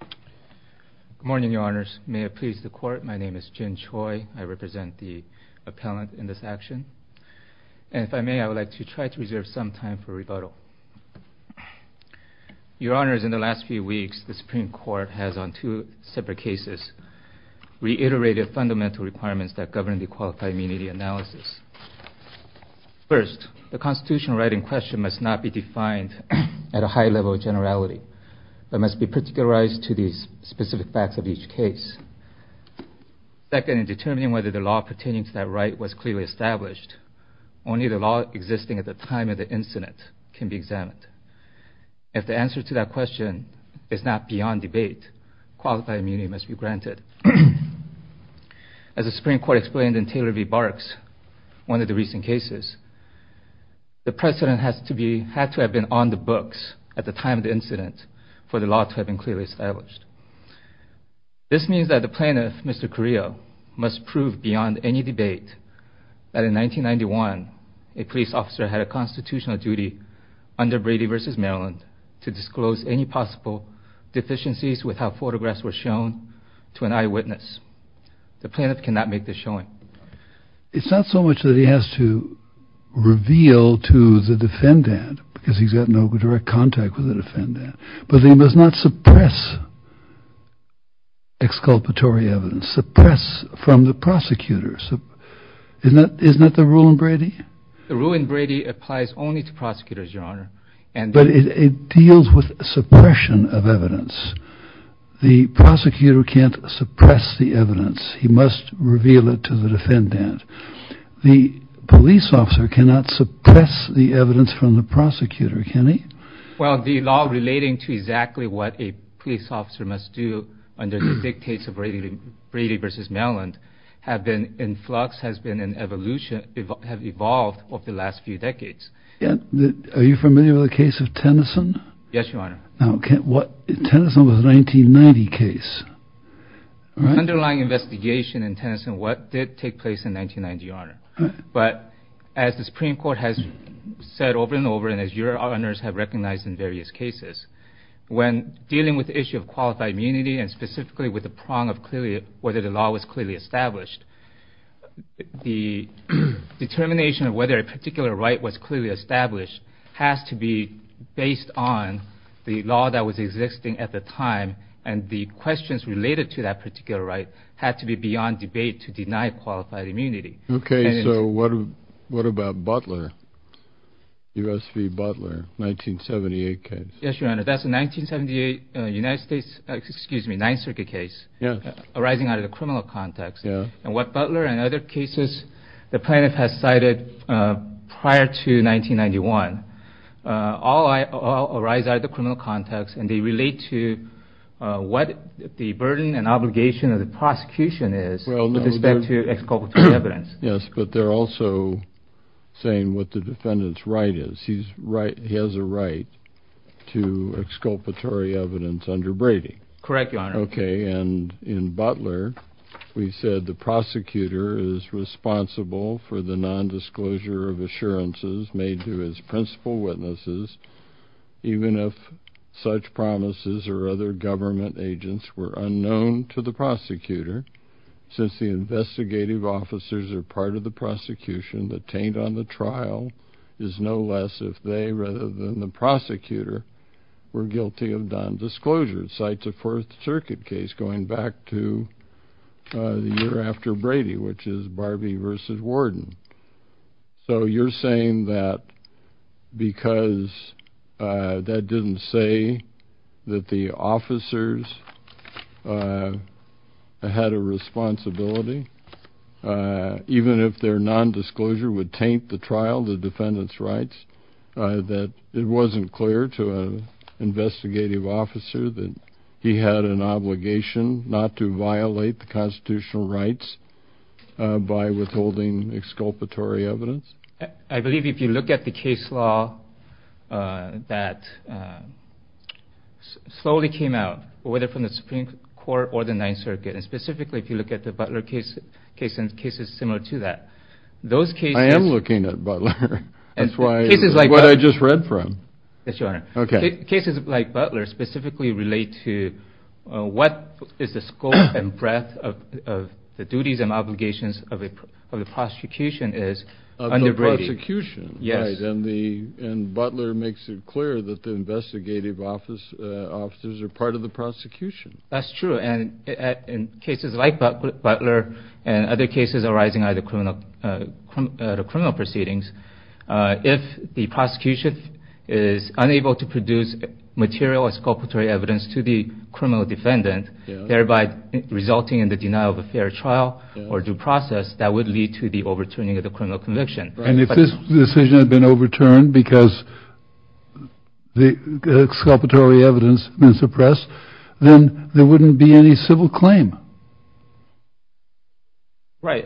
Good morning, Your Honors. May it please the Court, my name is Jin Choi. I represent the appellant in this action. And if I may, I would like to try to reserve some time for rebuttal. Your Honors, in the last few weeks, the Supreme Court has, on two separate cases, reiterated fundamental requirements that govern the Qualified Immunity Analysis. First, the constitutional right in question must not be defined at a high level of generality, but must be particularized to the specific facts of each case. Second, in determining whether the law pertaining to that right was clearly established, only the law existing at the time of the incident can be examined. If the answer to that question is not beyond debate, qualified immunity must be granted. As the Supreme Court explained in Taylor v. Barks, one of the recent cases, the precedent had to have been on the books at the time of the incident for the law to have been clearly established. This means that the plaintiff, Mr. Carrillo, must prove beyond any debate that in 1991, a police officer had a constitutional duty under Brady v. Maryland to disclose any possible deficiencies with how photographs were shown to an eyewitness. The plaintiff cannot make this showing. It's not so much that he has to reveal to the defendant, because he's got no direct contact with the defendant, but he must not suppress exculpatory evidence, suppress from the prosecutors. Isn't that the rule in Brady? The rule in Brady applies only to prosecutors, Your Honor. But it deals with suppression of evidence. The prosecutor can't suppress the evidence. He must reveal it to the defendant. The police officer cannot suppress the evidence from the prosecutor, can he? Well, the law relating to exactly what a police officer must do under the dictates of Brady v. Maryland have been in flux, has been in evolution, have evolved over the last few decades. Are you familiar with the case of Tennyson? Yes, Your Honor. Now, Tennyson was a 1990 case. The underlying investigation in Tennyson, what did take place in 1990, Your Honor? But as the Supreme Court has said over and over, and as your honors have recognized in various cases, when dealing with the issue of qualified immunity and specifically with the prong of whether the law was clearly established, the determination of whether a particular right was clearly established has to be based on the law that was existing at the time, and the questions related to that particular right had to be beyond debate to deny qualified immunity. Okay, so what about Butler, U.S. v. Butler, 1978 case? Yes, Your Honor. That's a 1978 United States, excuse me, Ninth Circuit case arising out of the criminal context. And what Butler and other cases the plaintiff has cited prior to 1991 all arise out of the criminal context, and they relate to what the burden and obligation of the prosecution is with respect to exculpatory evidence. Yes, but they're also saying what the defendant's right is. He has a right to exculpatory evidence under Brady. Correct, Your Honor. Okay, and in Butler we said, The prosecutor is responsible for the nondisclosure of assurances made to his principal witnesses, even if such promises or other government agents were unknown to the prosecutor. Since the investigative officers are part of the prosecution, the taint on the trial is no less if they, rather than the prosecutor, were guilty of nondisclosure. It cites a Fourth Circuit case going back to the year after Brady, which is Barbie v. Warden. So you're saying that because that didn't say that the officers had a responsibility, even if their nondisclosure would taint the trial, the defendant's rights, that it wasn't clear to an investigative officer that he had an obligation not to violate the constitutional rights by withholding exculpatory evidence? I believe if you look at the case law that slowly came out, whether from the Supreme Court or the Ninth Circuit, and specifically if you look at the Butler case and cases similar to that, I am looking at Butler. That's what I just read from. Yes, Your Honor. Okay. Cases like Butler specifically relate to what is the scope and breadth of the duties and obligations of the prosecution is under Brady. Of the prosecution. Yes. And Butler makes it clear that the investigative officers are part of the prosecution. That's true. In cases like Butler and other cases arising out of criminal proceedings, if the prosecution is unable to produce material exculpatory evidence to the criminal defendant, thereby resulting in the denial of a fair trial or due process, that would lead to the overturning of the criminal conviction. And if this decision had been overturned because the exculpatory evidence had been suppressed, then there wouldn't be any civil claim. Right.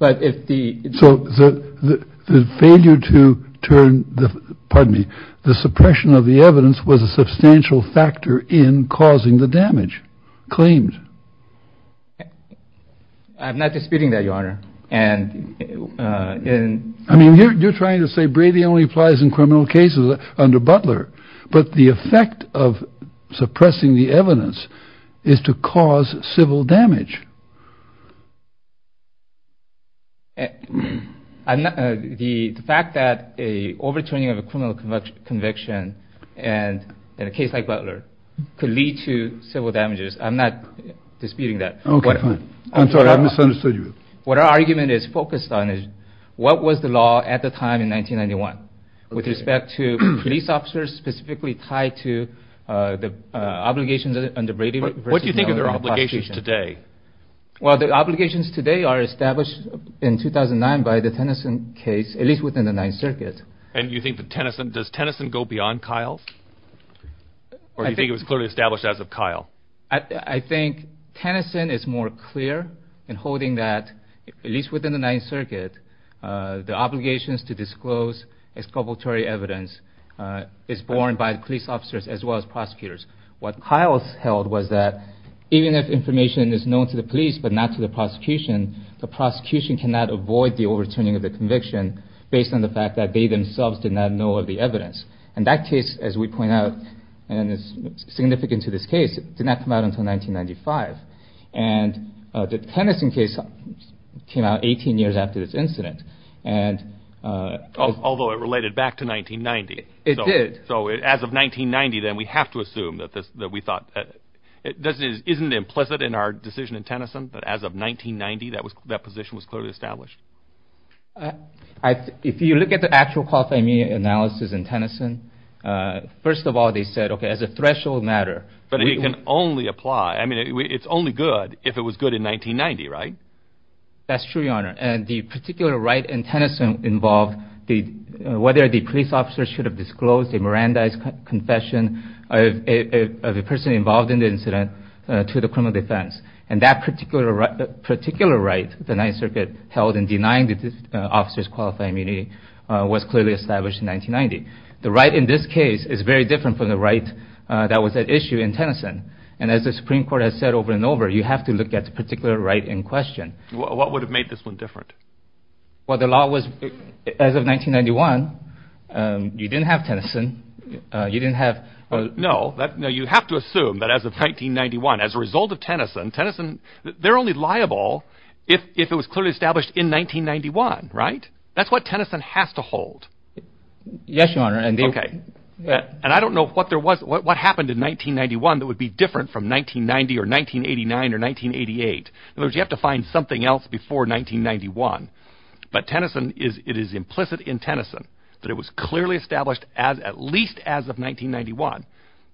But if the. So the failure to turn the pardon me, the suppression of the evidence was a substantial factor in causing the damage claimed. I'm not disputing that, Your Honor. And I mean, you're trying to say Brady only applies in criminal cases under Butler. But the effect of suppressing the evidence is to cause civil damage. The fact that a overturning of a criminal conviction and in a case like Butler could lead to civil damages. I'm not disputing that. I'm sorry. I misunderstood you. What our argument is focused on is what was the law at the time in 1991 with respect to police officers specifically tied to the obligations under Brady. What do you think of their obligations today? Well, the obligations today are established in 2009 by the Tennyson case, at least within the Ninth Circuit. And you think that Tennyson, does Tennyson go beyond Kyle? I think Tennyson is more clear in holding that, at least within the Ninth Circuit, the obligations to disclose exculpatory evidence is borne by the police officers as well as prosecutors. What Kyle held was that even if information is known to the police but not to the prosecution, the prosecution cannot avoid the overturning of the conviction based on the fact that they themselves did not know of the evidence. And that case, as we point out, and it's significant to this case, did not come out until 1995. And the Tennyson case came out 18 years after this incident. Although it related back to 1990. It did. So as of 1990, then, we have to assume that we thought. This isn't implicit in our decision in Tennyson, but as of 1990, that position was clearly established. If you look at the actual qualifying analysis in Tennyson, first of all, they said, okay, as a threshold matter. But it can only apply. I mean, it's only good if it was good in 1990, right? That's true, Your Honor. And the particular right in Tennyson involved whether the police officers should have disclosed a Mirandized confession of a person involved in the incident to the criminal defense. And that particular right, the Ninth Circuit held in denying the officers qualified immunity, was clearly established in 1990. The right in this case is very different from the right that was at issue in Tennyson. And as the Supreme Court has said over and over, you have to look at the particular right in question. What would have made this one different? Well, the law was, as of 1991, you didn't have Tennyson. You didn't have. No, you have to assume that as of 1991, as a result of Tennyson, Tennyson, they're only liable if it was clearly established in 1991, right? That's what Tennyson has to hold. Yes, Your Honor. Okay. And I don't know what there was, what happened in 1991 that would be different from 1990 or 1989 or 1988. In other words, you have to find something else before 1991. But Tennyson is, it is implicit in Tennyson that it was clearly established as, at least as of 1991,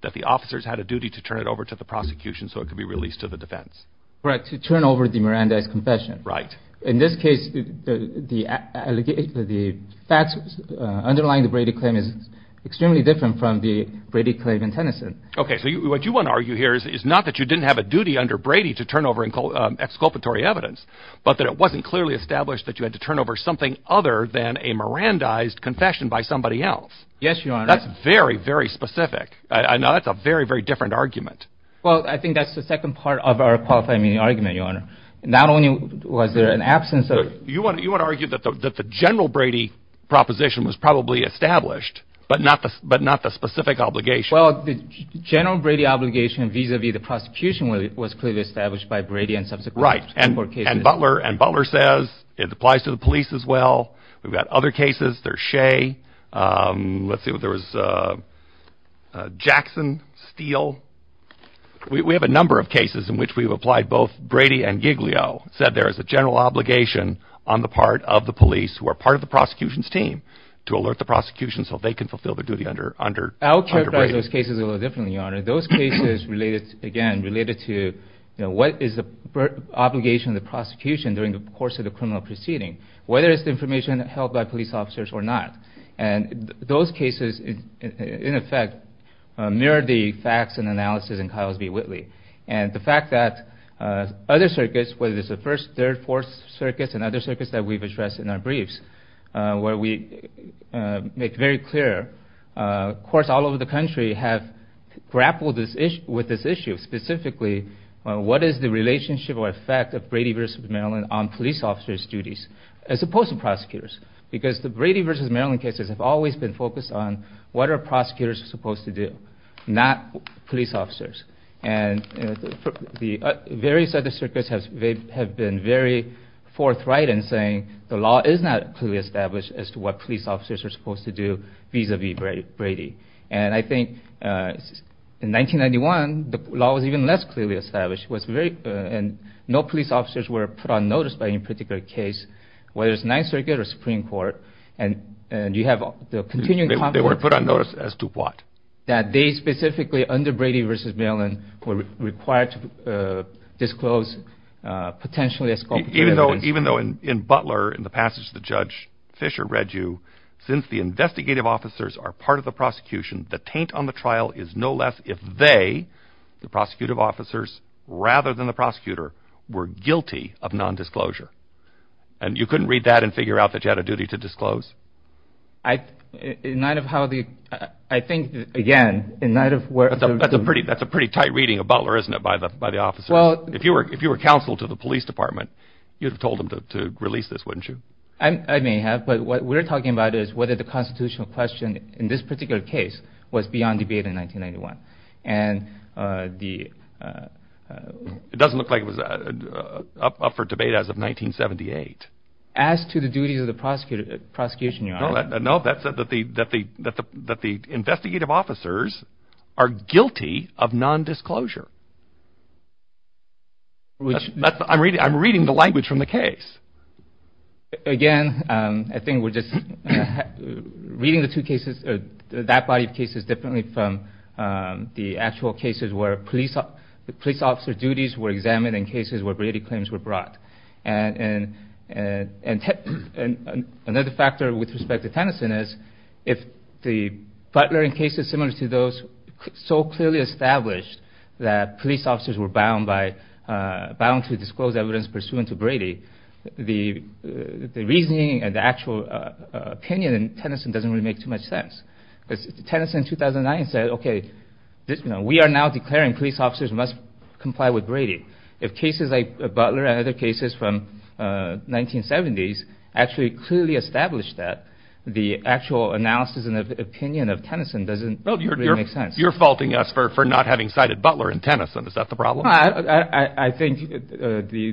that the officers had a duty to turn it over to the prosecution so it could be released to the defense. Right, to turn over the Miranda's confession. Right. In this case, the facts underlying the Brady claim is extremely different from the Brady claim in Tennyson. Okay, so what you want to argue here is not that you didn't have a duty under Brady to turn over exculpatory evidence, but that it wasn't clearly established that you had to turn over something other than a Miranda-ized confession by somebody else. Yes, Your Honor. That's very, very specific. That's a very, very different argument. Well, I think that's the second part of our qualifying argument, Your Honor. Not only was there an absence of... You want to argue that the general Brady proposition was probably established, but not the specific obligation. Well, the general Brady obligation vis-a-vis the prosecution was clearly established by Brady and subsequent cases. Right, and Butler says it applies to the police as well. We've got other cases. There's Shea. Let's see, there was Jackson, Steele. We have a number of cases in which we've applied both Brady and Giglio, said there is a general obligation on the part of the police who are part of the prosecution's team to alert the prosecution so they can fulfill their duty under Brady. I would characterize those cases a little differently, Your Honor. Those cases, again, related to what is the obligation of the prosecution during the course of the criminal proceeding, whether it's the information held by police officers or not. And those cases, in effect, mirror the facts and analysis in Ciles v. Whitley. And the fact that other circuits, whether it's the 1st, 3rd, 4th circuits and other circuits that we've addressed in our briefs where we make very clear, of course, all over the country have grappled with this issue. Specifically, what is the relationship or effect of Brady v. Maryland on police officers' duties as opposed to prosecutors? Because the Brady v. Maryland cases have always been focused on what are prosecutors supposed to do, not police officers. And the various other circuits have been very forthright in saying the law is not clearly established as to what police officers are supposed to do vis-a-vis Brady. And I think in 1991, the law was even less clearly established. And no police officers were put on notice by any particular case, whether it's 9th Circuit or Supreme Court. They were put on notice as to what? That they specifically, under Brady v. Maryland, were required to disclose potentially escopic evidence. Even though in Butler, in the passage that Judge Fisher read you, since the investigative officers are part of the prosecution, the taint on the trial is no less if they, the prosecutive officers, rather than the prosecutor, were guilty of nondisclosure. And you couldn't read that and figure out that you had a duty to disclose? I, in light of how the, I think, again, in light of where... That's a pretty tight reading of Butler, isn't it, by the officers? Well... If you were counsel to the police department, you'd have told them to release this, wouldn't you? I may have, but what we're talking about is whether the constitutional question in this particular case was beyond debate in 1991. And the... It doesn't look like it was up for debate as of 1978. As to the duties of the prosecution, Your Honor... No, that said that the investigative officers are guilty of nondisclosure. Which... I'm reading the language from the case. Again, I think we're just reading the two cases, that body of cases, differently from the actual cases where police officer duties were examined and cases where Brady claims were brought. And... Another factor with respect to Tennyson is, if the Butler and cases similar to those so clearly established that police officers were bound by... Bound to disclose evidence pursuant to Brady, the reasoning and the actual opinion in Tennyson doesn't really make too much sense. Because Tennyson in 2009 said, okay, we are now declaring police officers must comply with Brady. If cases like Butler and other cases from 1970s actually clearly established that, the actual analysis and opinion of Tennyson doesn't really make sense. You're faulting us for not having cited Butler in Tennyson. Is that the problem? No, I think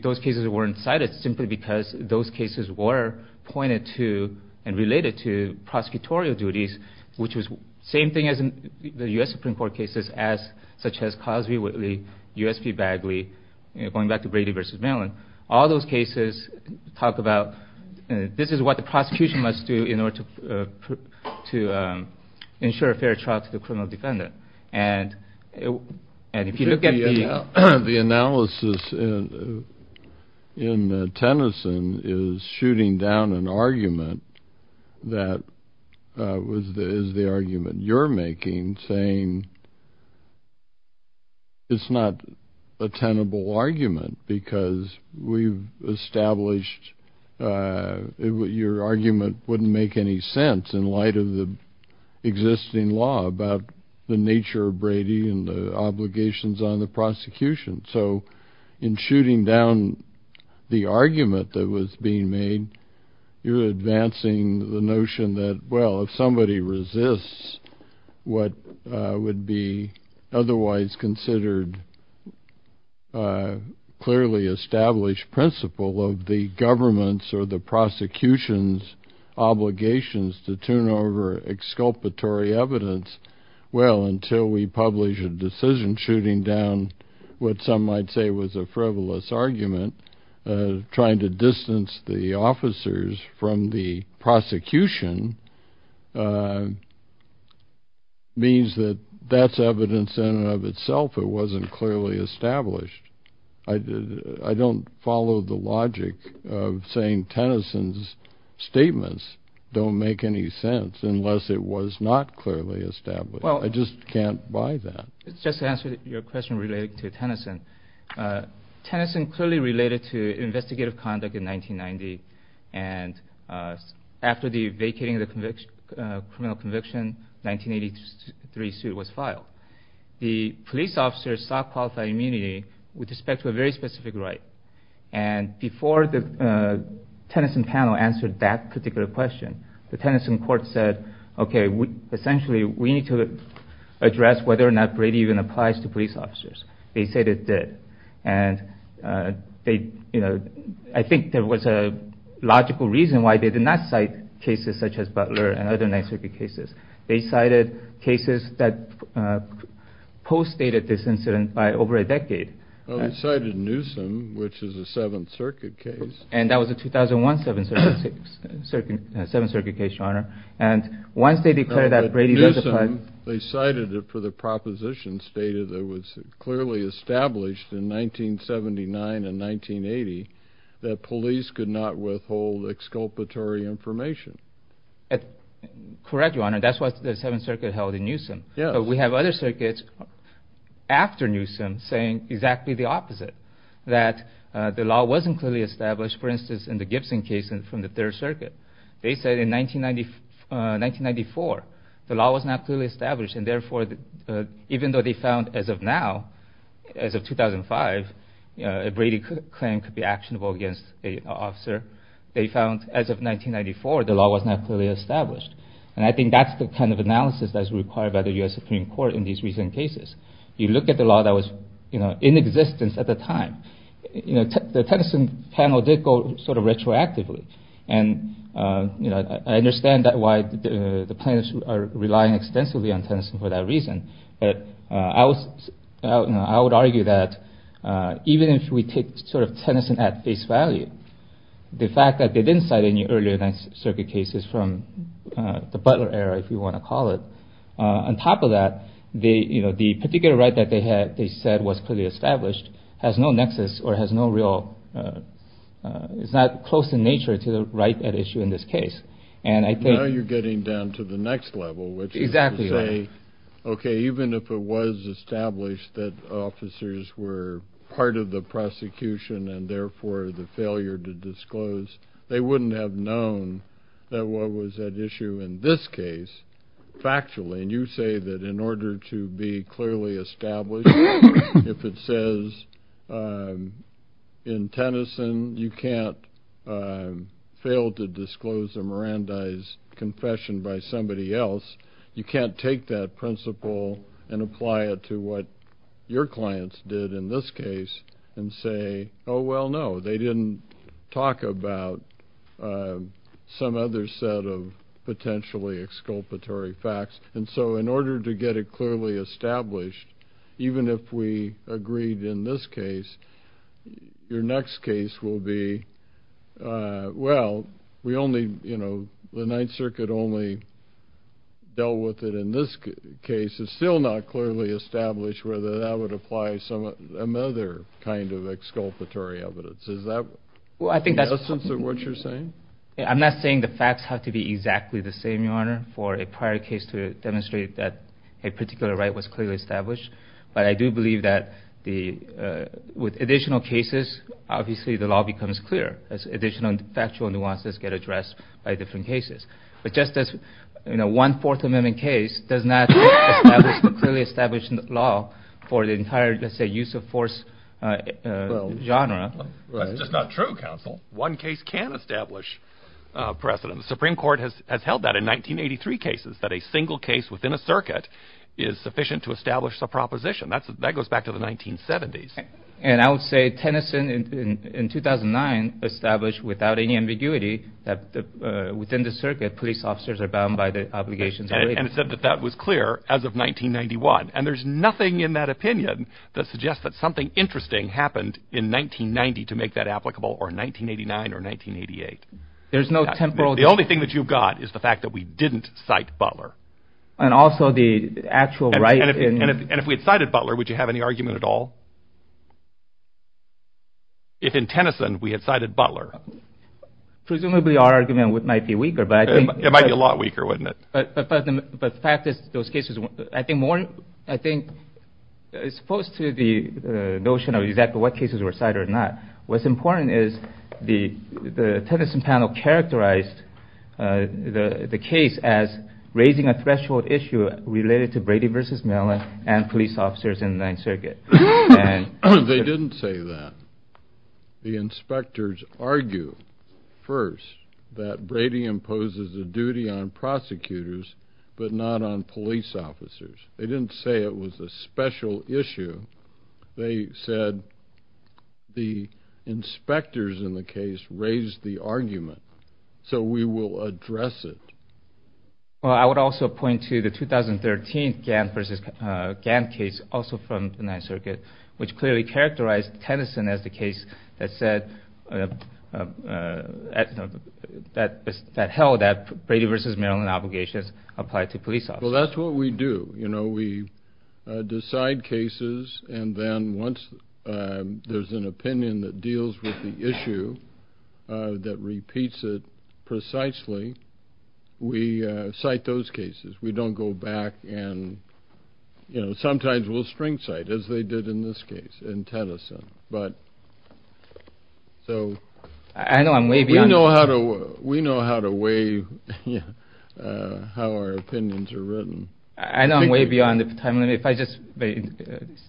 those cases weren't cited simply because those cases were pointed to and related to prosecutorial duties. Which was the same thing as the U.S. Supreme Court cases such as Cosby-Whitley, U.S. v. Bagley, going back to Brady v. Mellon. All those cases talk about, this is what the prosecution must do in order to ensure a fair trial to the criminal defendant. And if you look at the... The analysis in Tennyson is shooting down an argument that is the argument you're making, saying it's not a tenable argument. Because we've established your argument wouldn't make any sense in light of the existing law about the nature of Brady and the obligations on the prosecution. So, in shooting down the argument that was being made, you're advancing the notion that, well, if somebody resists what would be otherwise considered clearly established principle of the government's or the prosecution's obligations to turn over exculpatory evidence, well, until we publish a decision shooting down what some might say was a frivolous argument, trying to distance the officers from the prosecution, means that that's evidence in and of itself it wasn't clearly established. I don't follow the logic of saying Tennyson's statements don't make any sense unless it was not clearly established. I just can't buy that. Just to answer your question related to Tennyson, Tennyson clearly related to investigative conduct in 1990 and after the vacating of the criminal conviction, 1983 suit was filed. The police officers sought qualified immunity with respect to a very specific right and before the Tennyson panel answered that particular question, the Tennyson court said, okay, essentially we need to address whether or not Brady even applies to police officers. They said it did and I think there was a logical reason why they did not cite cases such as Butler and other 9th Circuit cases. They cited cases that post-stated this incident by over a decade. Well, they cited Newsom, which is a 7th Circuit case. And that was a 2001 7th Circuit case, Your Honor. They cited it for the proposition stated that it was clearly established in 1979 and 1980 that police could not withhold exculpatory information. Correct, Your Honor. That's what the 7th Circuit held in Newsom. But we have other circuits after Newsom saying exactly the opposite, that the law wasn't clearly established. For instance, in the Gibson case from the 3rd Circuit, they said in 1994 the law was not clearly established and therefore even though they found as of now, as of 2005, a Brady claim could be actionable against an officer, they found as of 1994 the law was not clearly established. And I think that's the kind of analysis that's required by the U.S. Supreme Court in these recent cases. You look at the law that was in existence at the time, the Tennyson panel did go sort of retroactively and I understand why the plaintiffs are relying extensively on Tennyson for that reason. But I would argue that even if we take Tennyson at face value, the fact that they didn't cite any earlier 9th Circuit cases from the Butler era, if you want to call it, on top of that, the particular right that they said was clearly established has no nexus or has no real, it's not close in nature to the right at issue in this case. Now you're getting down to the next level, which is to say, okay, even if it was established that officers were part of the prosecution and therefore the failure to disclose, they wouldn't have known that what was at issue in this case, factually. And you say that in order to be clearly established, if it says in Tennyson you can't fail to disclose a Mirandize confession by somebody else, you can't take that principle and apply it to what your clients did in this case and say, oh, well, no, they didn't talk about some other set of potentially exculpatory facts. And so in order to get it clearly established, even if we agreed in this case, your next case will be, well, we only, you know, the 9th Circuit only dealt with it in this case. It's still not clearly established whether that would apply to some other kind of exculpatory evidence. Is that the essence of what you're saying? I'm not saying the facts have to be exactly the same, Your Honor, for a prior case to demonstrate that a particular right was clearly established. But I do believe that with additional cases, obviously the law becomes clearer as additional factual nuances get addressed by different cases. But just as, you know, one Fourth Amendment case does not establish a clearly established law for the entire, let's say, use of force genre. That's just not true, Counsel. One case can establish precedent. The Supreme Court has held that in 1983 cases that a single case within a circuit is sufficient to establish the proposition. That's that goes back to the 1970s. And I would say Tennyson in 2009 established without any ambiguity that within the circuit, police officers are bound by the obligations. And it said that that was clear as of 1991. And there's nothing in that opinion that suggests that something interesting happened in 1990 to make that applicable or 1989 or 1988. There's no temporal. The only thing that you've got is the fact that we didn't cite Butler and also the actual right. And if we had cited Butler, would you have any argument at all? If in Tennyson we had cited Butler, presumably our argument might be weaker, but it might be a lot weaker, wouldn't it? But the fact is those cases, I think more, I think, as opposed to the notion of exactly what cases were cited or not, what's important is the Tennyson panel characterized the case as raising a threshold issue related to Brady v. Mellon and police officers in the Ninth Circuit. They didn't say that. The inspectors argue first that Brady imposes a duty on prosecutors but not on police officers. They didn't say it was a special issue. They said the inspectors in the case raised the argument, so we will address it. I would also point to the 2013 Gantt v. Gantt case, also from the Ninth Circuit, which clearly characterized Tennyson as the case that held that Brady v. Mellon obligations apply to police officers. Well, that's what we do. We decide cases, and then once there's an opinion that deals with the issue, that repeats it precisely, we cite those cases. We don't go back and sometimes we'll string cite, as they did in this case in Tennyson. We know how to weigh how our opinions are written. I know I'm way beyond the time limit. If I just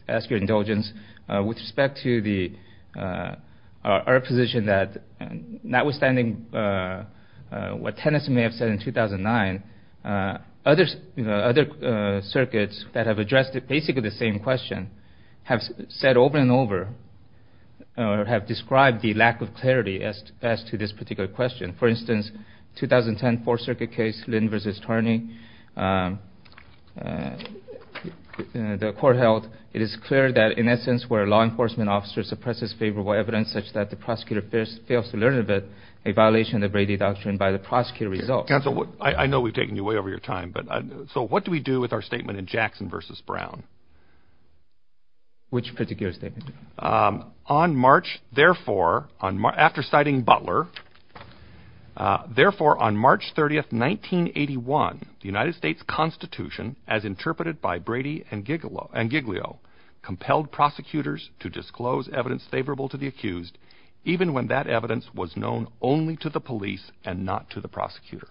ask your indulgence, with respect to our position that notwithstanding what Tennyson may have said in 2009, other circuits that have addressed basically the same question have said over and over, or have described the lack of clarity as to this particular question. For instance, the 2010 Fourth Circuit case, Lynn v. Tarney, the court held, it is clear that in essence where a law enforcement officer suppresses favorable evidence such that the prosecutor fails to learn of it, a violation of the Brady Doctrine by the prosecutor results. Counsel, I know we've taken you way over your time, but what do we do with our statement in Jackson v. Brown? Which particular statement? On March, therefore, after citing Butler, therefore on March 30th, 1981, the United States Constitution, as interpreted by Brady and Giglio, compelled prosecutors to disclose evidence favorable to the accused, even when that evidence was known only to the police and not to the prosecutor.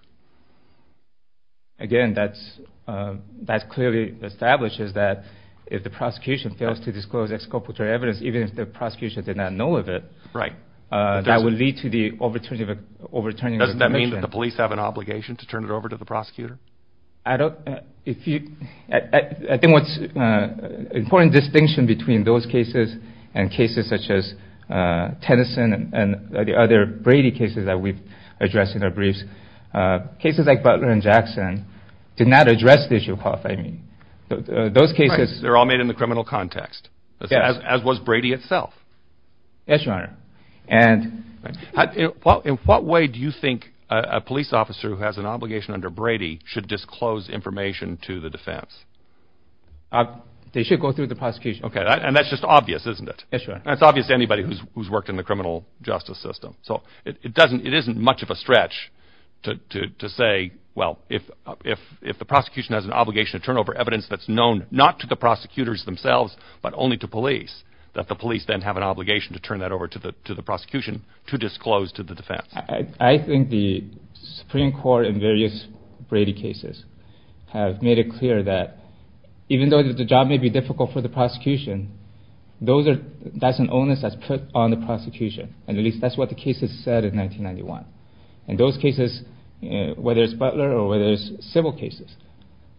Again, that clearly establishes that if the prosecution fails to disclose exculpatory evidence, even if the prosecution did not know of it, that would lead to the overturning of the conviction. Does that mean that the police have an obligation to turn it over to the prosecutor? I think what's an important distinction between those cases and cases such as Tennyson and the other Brady cases that we've addressed in our briefs, cases like Butler and Jackson did not address the issue of qualifying meaning. They're all made in the criminal context, as was Brady itself. Yes, Your Honor. In what way do you think a police officer who has an obligation under Brady should disclose information to the defense? They should go through the prosecution. And that's just obvious, isn't it? Yes, Your Honor. That's obvious to anybody who's worked in the criminal justice system. So it isn't much of a stretch to say, well, if the prosecution has an obligation to turn over evidence that's known not to the prosecutors themselves but only to police, that the police then have an obligation to turn that over to the prosecution to disclose to the defense. I think the Supreme Court in various Brady cases have made it clear that even though the job may be difficult for the prosecution, that's an onus that's put on the prosecution, and at least that's what the cases said in 1991. In those cases, whether it's Butler or whether it's civil cases,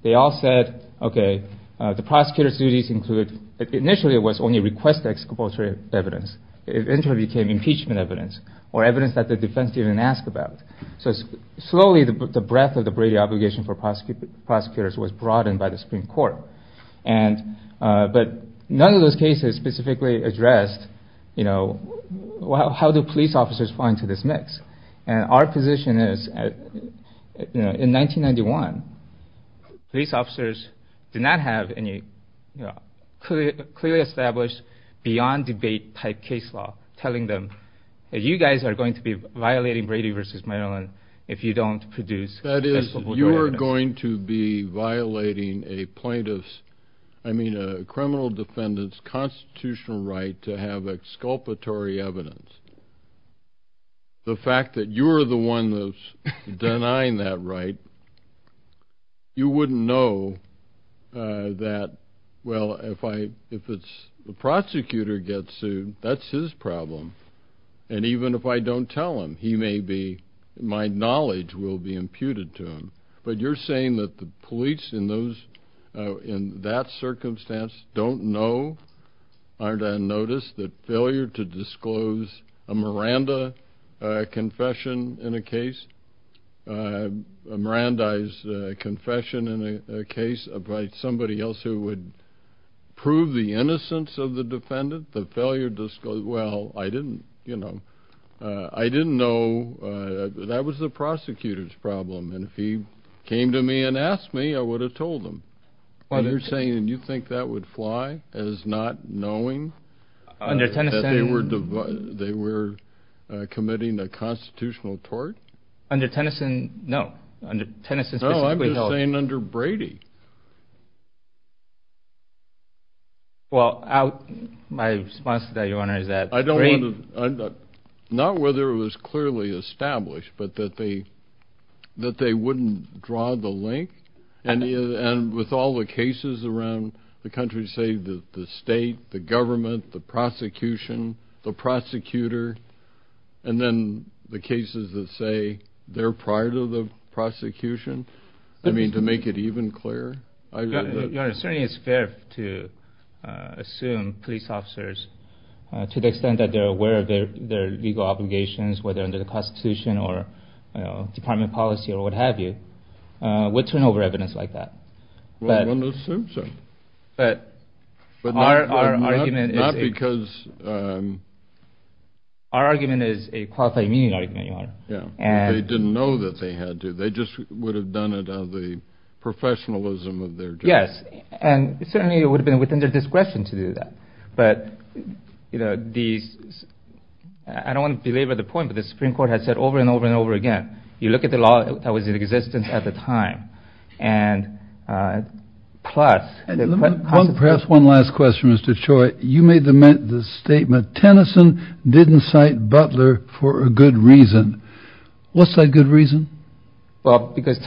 they all said, okay, the prosecutor's duties include, initially it was only request ex-compulsory evidence. It eventually became impeachment evidence or evidence that the defense didn't even ask about. So slowly the breadth of the Brady obligation for prosecutors was broadened by the Supreme Court. But none of those cases specifically addressed how do police officers fall into this mix. And our position is, in 1991, police officers did not have any clearly established beyond debate type case law telling them that you guys are going to be violating Brady v. Maryland if you don't produce accessible evidence. That is, you are going to be violating a plaintiff's, I mean a criminal defendant's, constitutional right to have exculpatory evidence. The fact that you're the one that's denying that right, you wouldn't know that, well, if the prosecutor gets sued, that's his problem. And even if I don't tell him, he may be, my knowledge will be imputed to him. But you're saying that the police in that circumstance don't know, aren't on notice, that failure to disclose a Miranda confession in a case, a Miranda confession in a case by somebody else who would prove the innocence of the defendant, the failure to disclose, well, I didn't, you know, I didn't know, that was the prosecutor's problem. And if he came to me and asked me, I would have told him. You're saying you think that would fly as not knowing that they were committing a constitutional tort? Under Tennyson, no. Under Tennyson specifically, no. No, I'm just saying under Brady. Well, my response to that, Your Honor, is that Brady... I don't want to, not whether it was clearly established, but that they wouldn't draw the link, and with all the cases around the country, say the state, the government, the prosecution, the prosecutor, and then the cases that say they're prior to the prosecution, I mean, to make it even clearer? Your Honor, certainly it's fair to assume police officers, to the extent that they're aware of their legal obligations, whether under the Constitution or Department of Policy or what have you, would turn over evidence like that. Well, one assumes so. But our argument is... Not because... Our argument is a qualifying meaning argument, Your Honor. Yeah, they didn't know that they had to. They just would have done it out of the professionalism of their job. Yes, and certainly it would have been within their discretion to do that. But, you know, these, I don't want to belabor the point, but the Supreme Court has said over and over and over again, you look at the law that was in existence at the time, and plus... Perhaps one last question, Mr. Choi. You made the statement, Tennyson didn't cite Butler for a good reason. What's that good reason? Well, because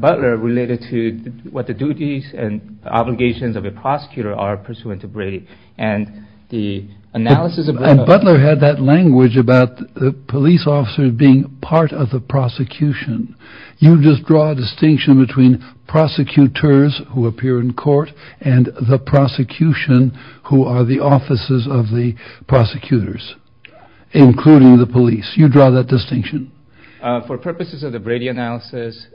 Butler related to what the duties and obligations of a prosecutor are pursuant to Brady, and the analysis of... Butler had that language about the police officers being part of the prosecution. You just draw a distinction between prosecutors who appear in court and the prosecution who are the offices of the prosecutors, including the police. You draw that distinction. For purposes of the Brady analysis,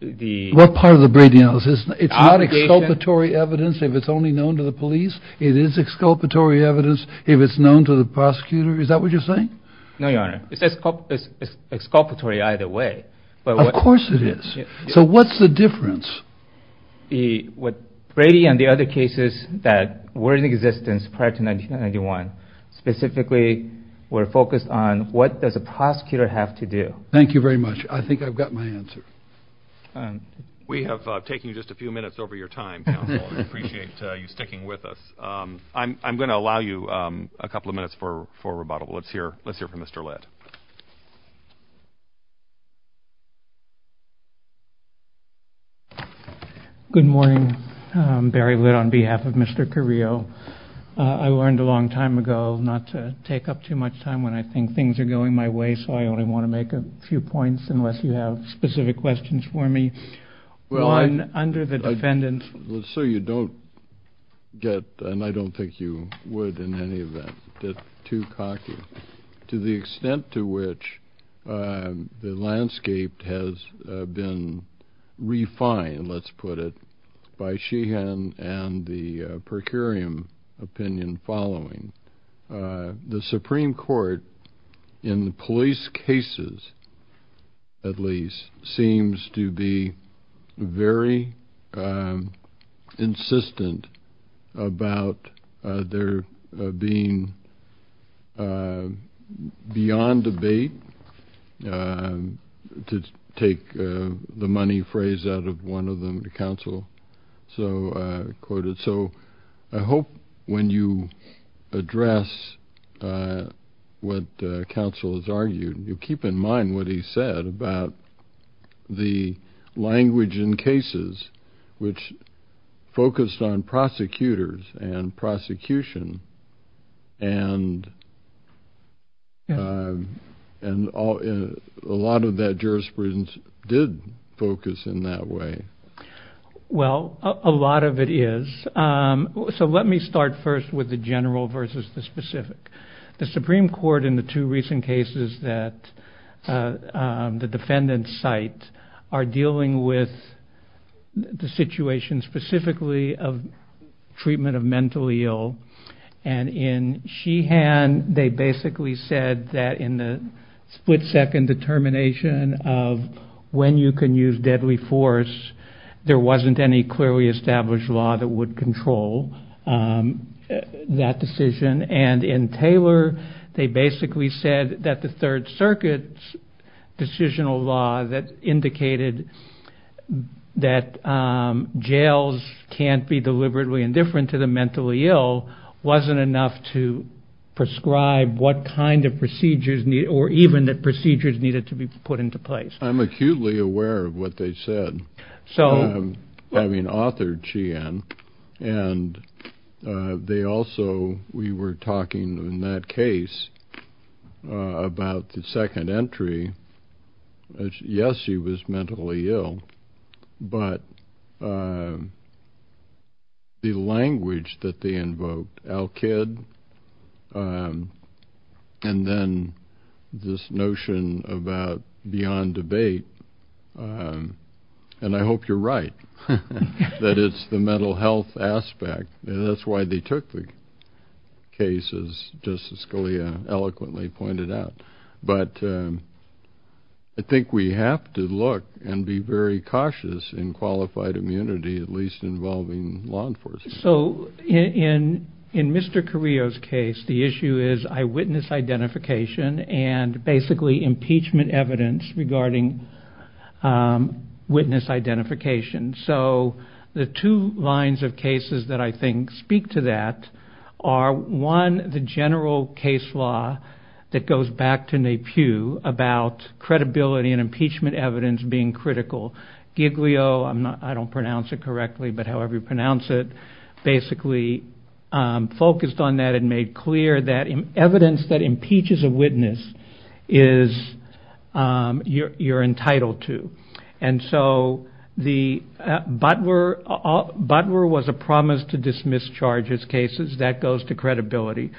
the... What part of the Brady analysis? It's not exculpatory evidence if it's only known to the police. It is exculpatory evidence if it's known to the prosecutor. Is that what you're saying? No, Your Honor. It's exculpatory either way. Of course it is. So what's the difference? Brady and the other cases that were in existence prior to 1991 specifically were focused on what does a prosecutor have to do. Thank you very much. I think I've got my answer. We have taken just a few minutes over your time, counsel, and I appreciate you sticking with us. I'm going to allow you a couple of minutes for rebuttal. Let's hear from Mr. Litt. Good morning. Barry Litt on behalf of Mr. Carrillo. I learned a long time ago not to take up too much time when I think things are going my way, so I only want to make a few points unless you have specific questions for me. One, under the defendant's So you don't get, and I don't think you would in any event, get too cocky. To the extent to which the landscape has been refined, let's put it, by Sheehan and the per curiam opinion following, the Supreme Court, in police cases at least, seems to be very insistent about there being beyond debate, to take the money phrase out of one of them to counsel. So I hope when you address what counsel has argued, you keep in mind what he said about the language in cases, which focused on prosecutors and prosecution, and a lot of that jurisprudence did focus in that way. Well, a lot of it is. So let me start first with the general versus the specific. The Supreme Court in the two recent cases that the defendants cite are dealing with the situation specifically of treatment of mentally ill and in Sheehan, they basically said that in the split second determination of when you can use deadly force, there wasn't any clearly established law that would control that decision. And in Taylor, they basically said that the Third Circuit's decisional law that indicated that jails can't be deliberately indifferent to the mentally ill, wasn't enough to prescribe what kind of procedures, or even that procedures needed to be put into place. I'm acutely aware of what they said, having authored Sheehan, and they also, we were talking in that case about the second entry, yes, he was mentally ill, but the language that they invoked, Al-Kid, and then this notion about beyond debate, and I hope you're right, that it's the mental health aspect. That's why they took the case, as Justice Scalia eloquently pointed out. But I think we have to look and be very cautious in qualified immunity, at least involving law enforcement. So in Mr. Carrillo's case, the issue is eyewitness identification and basically impeachment evidence regarding witness identification. So the two lines of cases that I think speak to that are, one, the general case law that goes back to Napier about credibility and impeachment evidence being critical. Giglio, I don't pronounce it correctly, but however you pronounce it, basically focused on that and made clear that evidence that impeaches a witness is, you're entitled to. And so the, Butler was a promise to dismiss charges cases, that goes to credibility.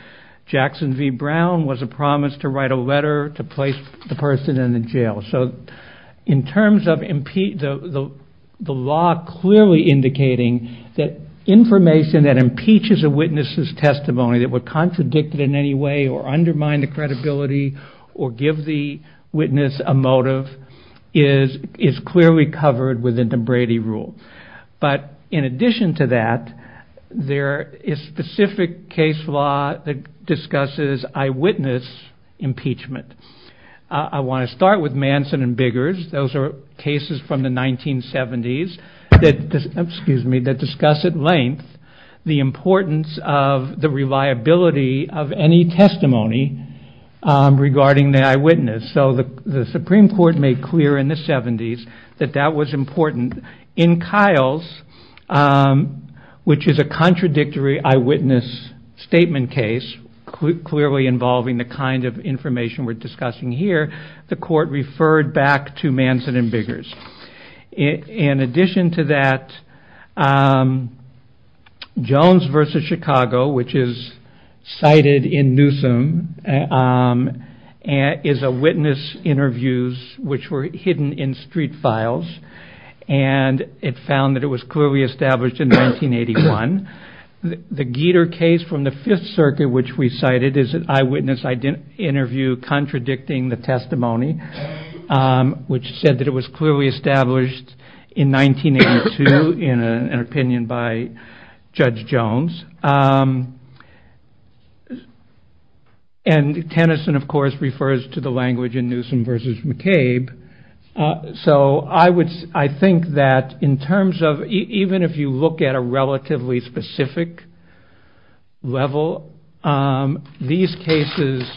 Jackson v. Brown was a promise to write a letter to place the person in the jail. So in terms of the law clearly indicating that information that impeaches a witness's testimony, that would contradict it in any way or undermine the credibility or give the witness a motive is clearly covered within the Brady rule. But in addition to that, there is specific case law that discusses eyewitness impeachment. I want to start with Manson and Biggers. Those are cases from the 1970s that discuss at length the importance of the reliability of any testimony regarding the eyewitness. So the Supreme Court made clear in the 70s that that was important. In Kyle's, which is a contradictory eyewitness statement case, clearly involving the kind of information we're discussing here, the court referred back to Manson and Biggers. In addition to that, Jones v. Chicago, which is cited in Newsom, is a witness interviews which were hidden in street files, and it found that it was clearly established in 1981. The Geter case from the Fifth Circuit, which we cited, is an eyewitness interview contradicting the testimony, which said that it was clearly established in 1982 in an opinion by Judge Jones. And Tennyson, of course, refers to the language in Newsom v. McCabe. So I think that in terms of even if you look at a relatively specific level, these cases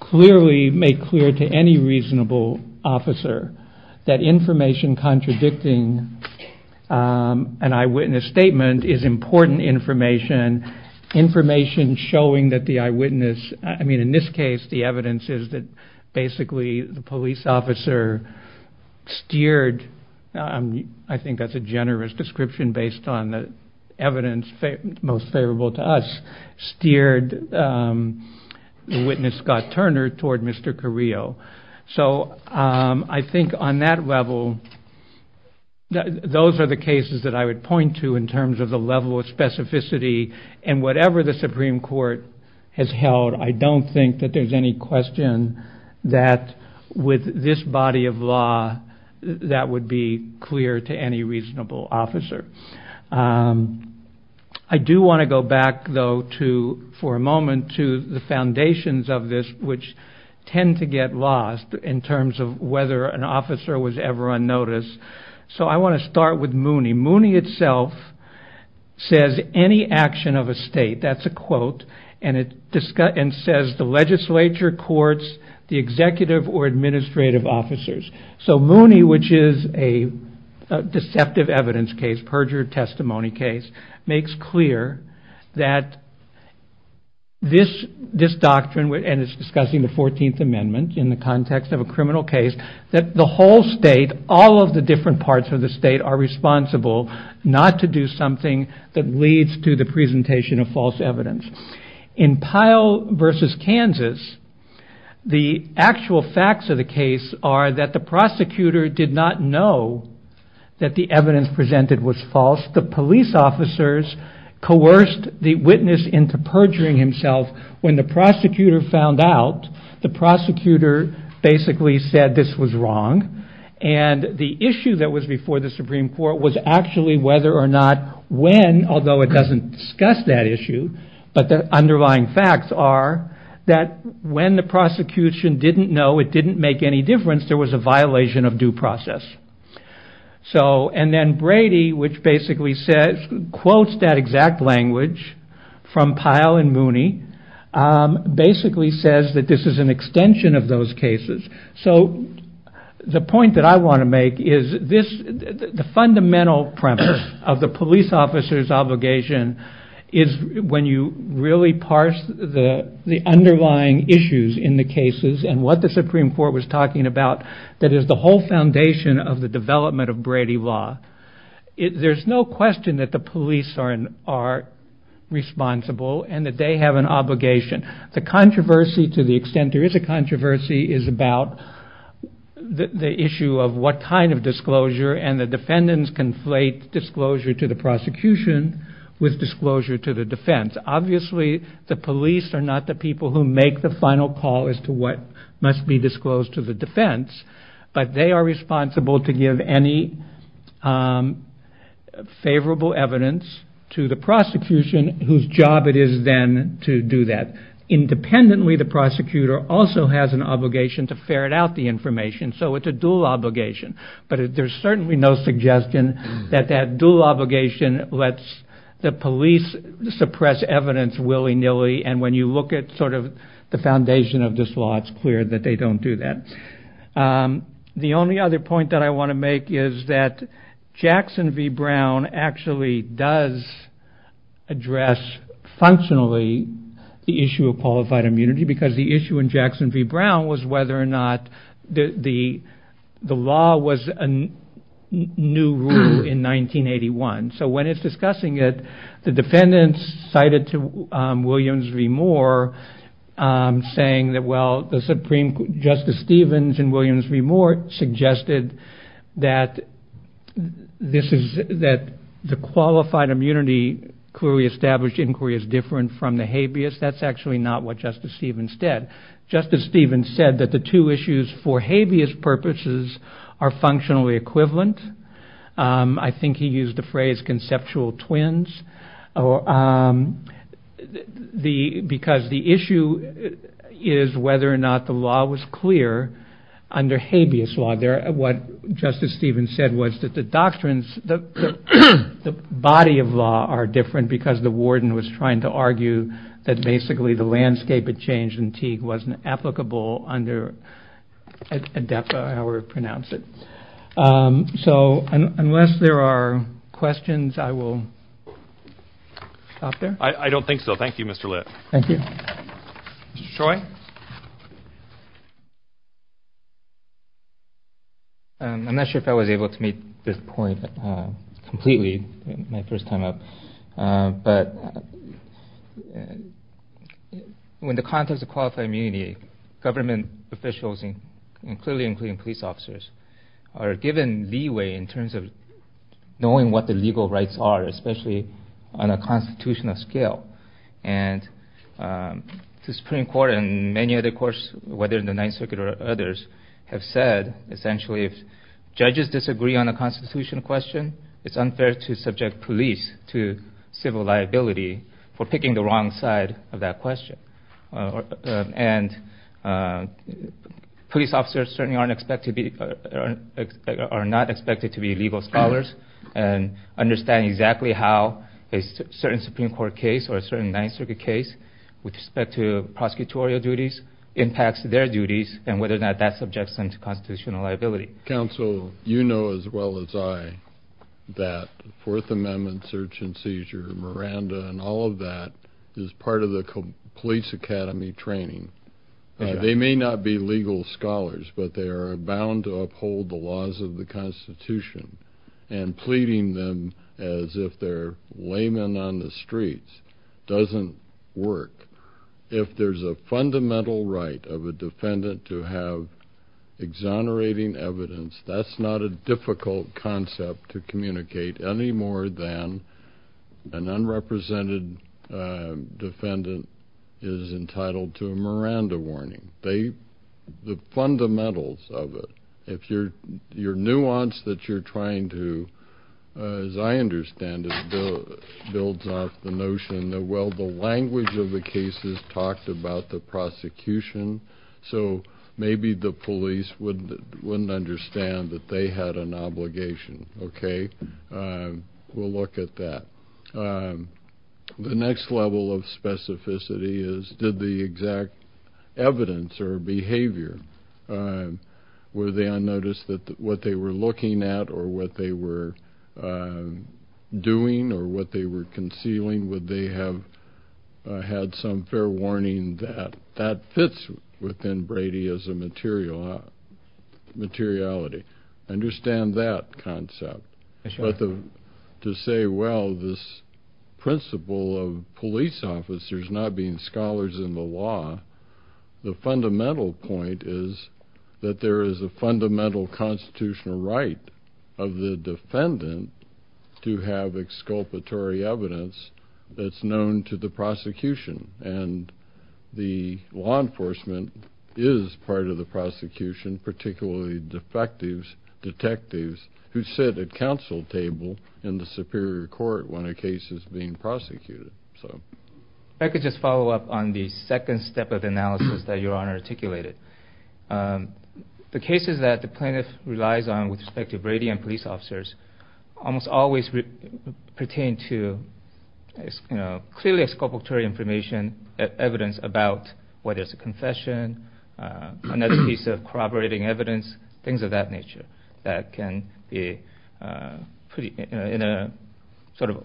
clearly make clear to any reasonable officer that information contradicting an eyewitness statement is important information, information showing that the eyewitness, I mean in this case the evidence is that basically the police officer steered, I think that's a generous description based on the evidence most favorable to us, steered the witness, Scott Turner, toward Mr. Carrillo. So I think on that level, those are the cases that I would point to in terms of the level of specificity, and whatever the Supreme Court has held, I don't think that there's any question that with this body of law, that would be clear to any reasonable officer. I do want to go back, though, for a moment to the foundations of this, which tend to get lost in terms of whether an officer was ever on notice. So I want to start with Mooney. Mooney itself says any action of a state, that's a quote, and it says the legislature, courts, the executive or administrative officers. So Mooney, which is a deceptive evidence case, perjured testimony case, makes clear that this doctrine, and it's discussing the 14th Amendment in the context of a criminal case, that the whole state, all of the different parts of the state are responsible not to do something that leads to the presentation of false evidence. In Pyle versus Kansas, the actual facts of the case are that the prosecutor did not know that the evidence presented was false. The police officers coerced the witness into perjuring himself. When the prosecutor found out, the prosecutor basically said this was wrong, and the issue that was before the Supreme Court was actually whether or not when, although it doesn't discuss that issue, but the underlying facts are that when the prosecution didn't know, it didn't make any difference, there was a violation of due process. So, and then Brady, which basically says, quotes that exact language from Pyle and Mooney, basically says that this is an extension of those cases. So, the point that I want to make is this, the fundamental premise of the police officer's obligation is when you really parse the underlying issues in the cases and what the Supreme Court was talking about, that is the whole foundation of the development of Brady law. There's no question that the police are responsible and that they have an obligation. The controversy, to the extent there is a controversy, is about the issue of what kind of disclosure and the defendants conflate disclosure to the prosecution with disclosure to the defense. Obviously, the police are not the people who make the final call as to what must be disclosed to the defense, but they are responsible to give any favorable evidence to the prosecution whose job it is then to do that. Independently, the prosecutor also has an obligation to ferret out the information, so it's a dual obligation, but there's certainly no suggestion that that dual obligation lets the police suppress evidence willy-nilly and when you look at sort of the foundation of this law, it's clear that they don't do that. The only other point that I want to make is that Jackson v. Brown actually does address functionally the issue of qualified immunity because the issue in Jackson v. Brown was whether or not the law was a new rule in 1981. So when it's discussing it, the defendants cited to Williams v. Moore saying that, well, Justice Stevens and Williams v. Moore suggested that the qualified immunity clearly established inquiry is different from the habeas. That's actually not what Justice Stevens said. Justice Stevens said that the two issues for habeas purposes are functionally equivalent. I think he used the phrase conceptual twins because the issue is whether or not the law was clear under habeas law. What Justice Stevens said was that the doctrines, the body of law are different because the warden was trying to argue that basically the landscape had changed wasn't applicable under ADEPA, however you pronounce it. So unless there are questions, I will stop there. I don't think so. Thank you, Mr. Lit. Thank you. Mr. Choi? I'm not sure if I was able to make this point completely my first time up, but in the context of qualified immunity, government officials, clearly including police officers, are given leeway in terms of knowing what the legal rights are, especially on a constitutional scale. And the Supreme Court and many other courts, whether in the Ninth Circuit or others, have said essentially if judges disagree on a constitutional question, it's unfair to subject police to civil liability for picking the wrong side of that question. And police officers certainly are not expected to be legal scholars and understand exactly how a certain Supreme Court case or a certain Ninth Circuit case with respect to prosecutorial duties impacts their duties and whether or not that subjects them to constitutional liability. Counsel, you know as well as I that Fourth Amendment search and seizure, Miranda, and all of that is part of the police academy training. They may not be legal scholars, but they are bound to uphold the laws of the Constitution and pleading them as if they're laymen on the streets doesn't work. If there's a fundamental right of a defendant to have exonerating evidence, that's not a difficult concept to communicate any more than an unrepresented defendant is entitled to a Miranda warning. The fundamentals of it, if your nuance that you're trying to, as I understand it, builds off the notion that, well, the language of the cases talked about the prosecution, so maybe the police wouldn't understand that they had an obligation, okay? We'll look at that. The next level of specificity is did the exact evidence or behavior, were they unnoticed that what they were looking at or what they were doing or what they were concealing, would they have had some fair warning that that fits within Brady as a materiality. Understand that concept. But to say, well, this principle of police officers not being scholars in the law, the fundamental point is that there is a fundamental constitutional right of the defendant to have exculpatory evidence that's known to the prosecution, and the law enforcement is part of the prosecution, particularly defectives, detectives, who sit at counsel table in the superior court when a case is being prosecuted. If I could just follow up on the second step of analysis that Your Honor articulated. The cases that the plaintiff relies on with respect to Brady and police officers almost always pertain to clearly exculpatory information, evidence about whether it's a confession, another piece of corroborating evidence, things of that nature that can be, in a sort of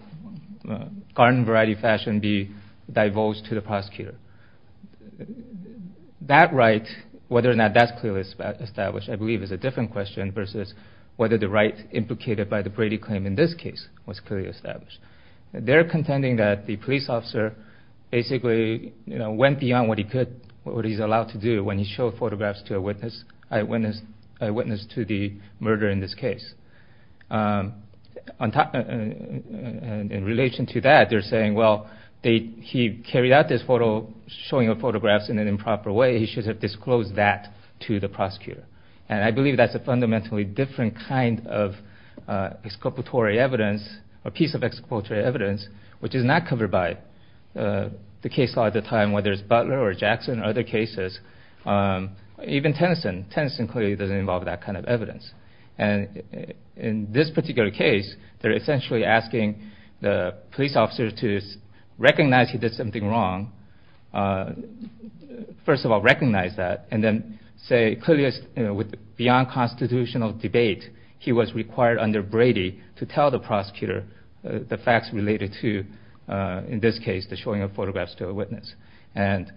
garden variety fashion, be divulged to the prosecutor. That right, whether or not that's clearly established, I believe is a different question versus whether the right implicated by the Brady claim in this case was clearly established. They're contending that the police officer basically went beyond what he's allowed to do when he showed photographs to a witness, a witness to the murder in this case. In relation to that, they're saying, well, he carried out this photo, showing photographs in an improper way, he should have disclosed that to the prosecutor. And I believe that's a fundamentally different kind of exculpatory evidence, a piece of exculpatory evidence, which is not covered by the case law at the time, whether it's Butler or Jackson or other cases, even Tennyson, Tennyson clearly doesn't involve that kind of evidence. And in this particular case, they're essentially asking the police officer to recognize he did something wrong, first of all recognize that, and then say clearly beyond constitutional debate he was required under Brady to tell the prosecutor the facts related to, in this case, the showing of photographs to a witness. And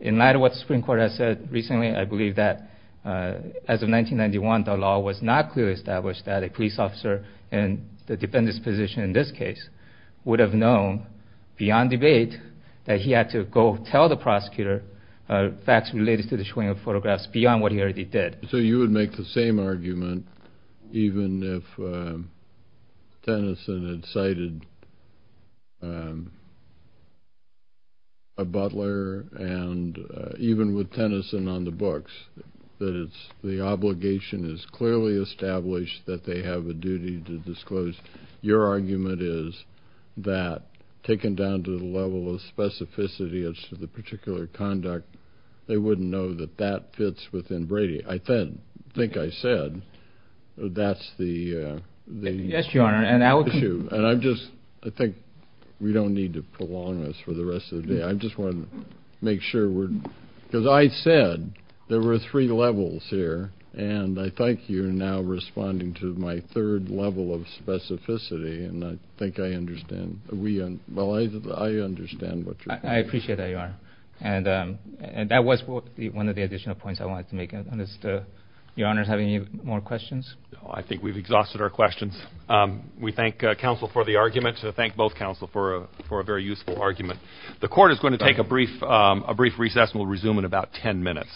in light of what the Supreme Court has said recently, I believe that as of 1991, the law was not clearly established that a police officer in the defendant's position in this case would have known beyond debate that he had to go tell the prosecutor facts related to the showing of photographs beyond what he already did. So you would make the same argument, even if Tennyson had cited Butler, and even with Tennyson on the books, that the obligation is clearly established that they have a duty to disclose. Your argument is that, taken down to the level of specificity as to the particular conduct, they wouldn't know that that fits within Brady. I think I said that's the issue. Yes, Your Honor. And I just think we don't need to prolong this for the rest of the day. I just want to make sure we're – because I said there were three levels here, and I think you're now responding to my third level of specificity, I appreciate that, Your Honor. And that was one of the additional points I wanted to make. Does Your Honor have any more questions? I think we've exhausted our questions. We thank counsel for the argument. We thank both counsel for a very useful argument. The court is going to take a brief recess and we'll resume in about 10 minutes.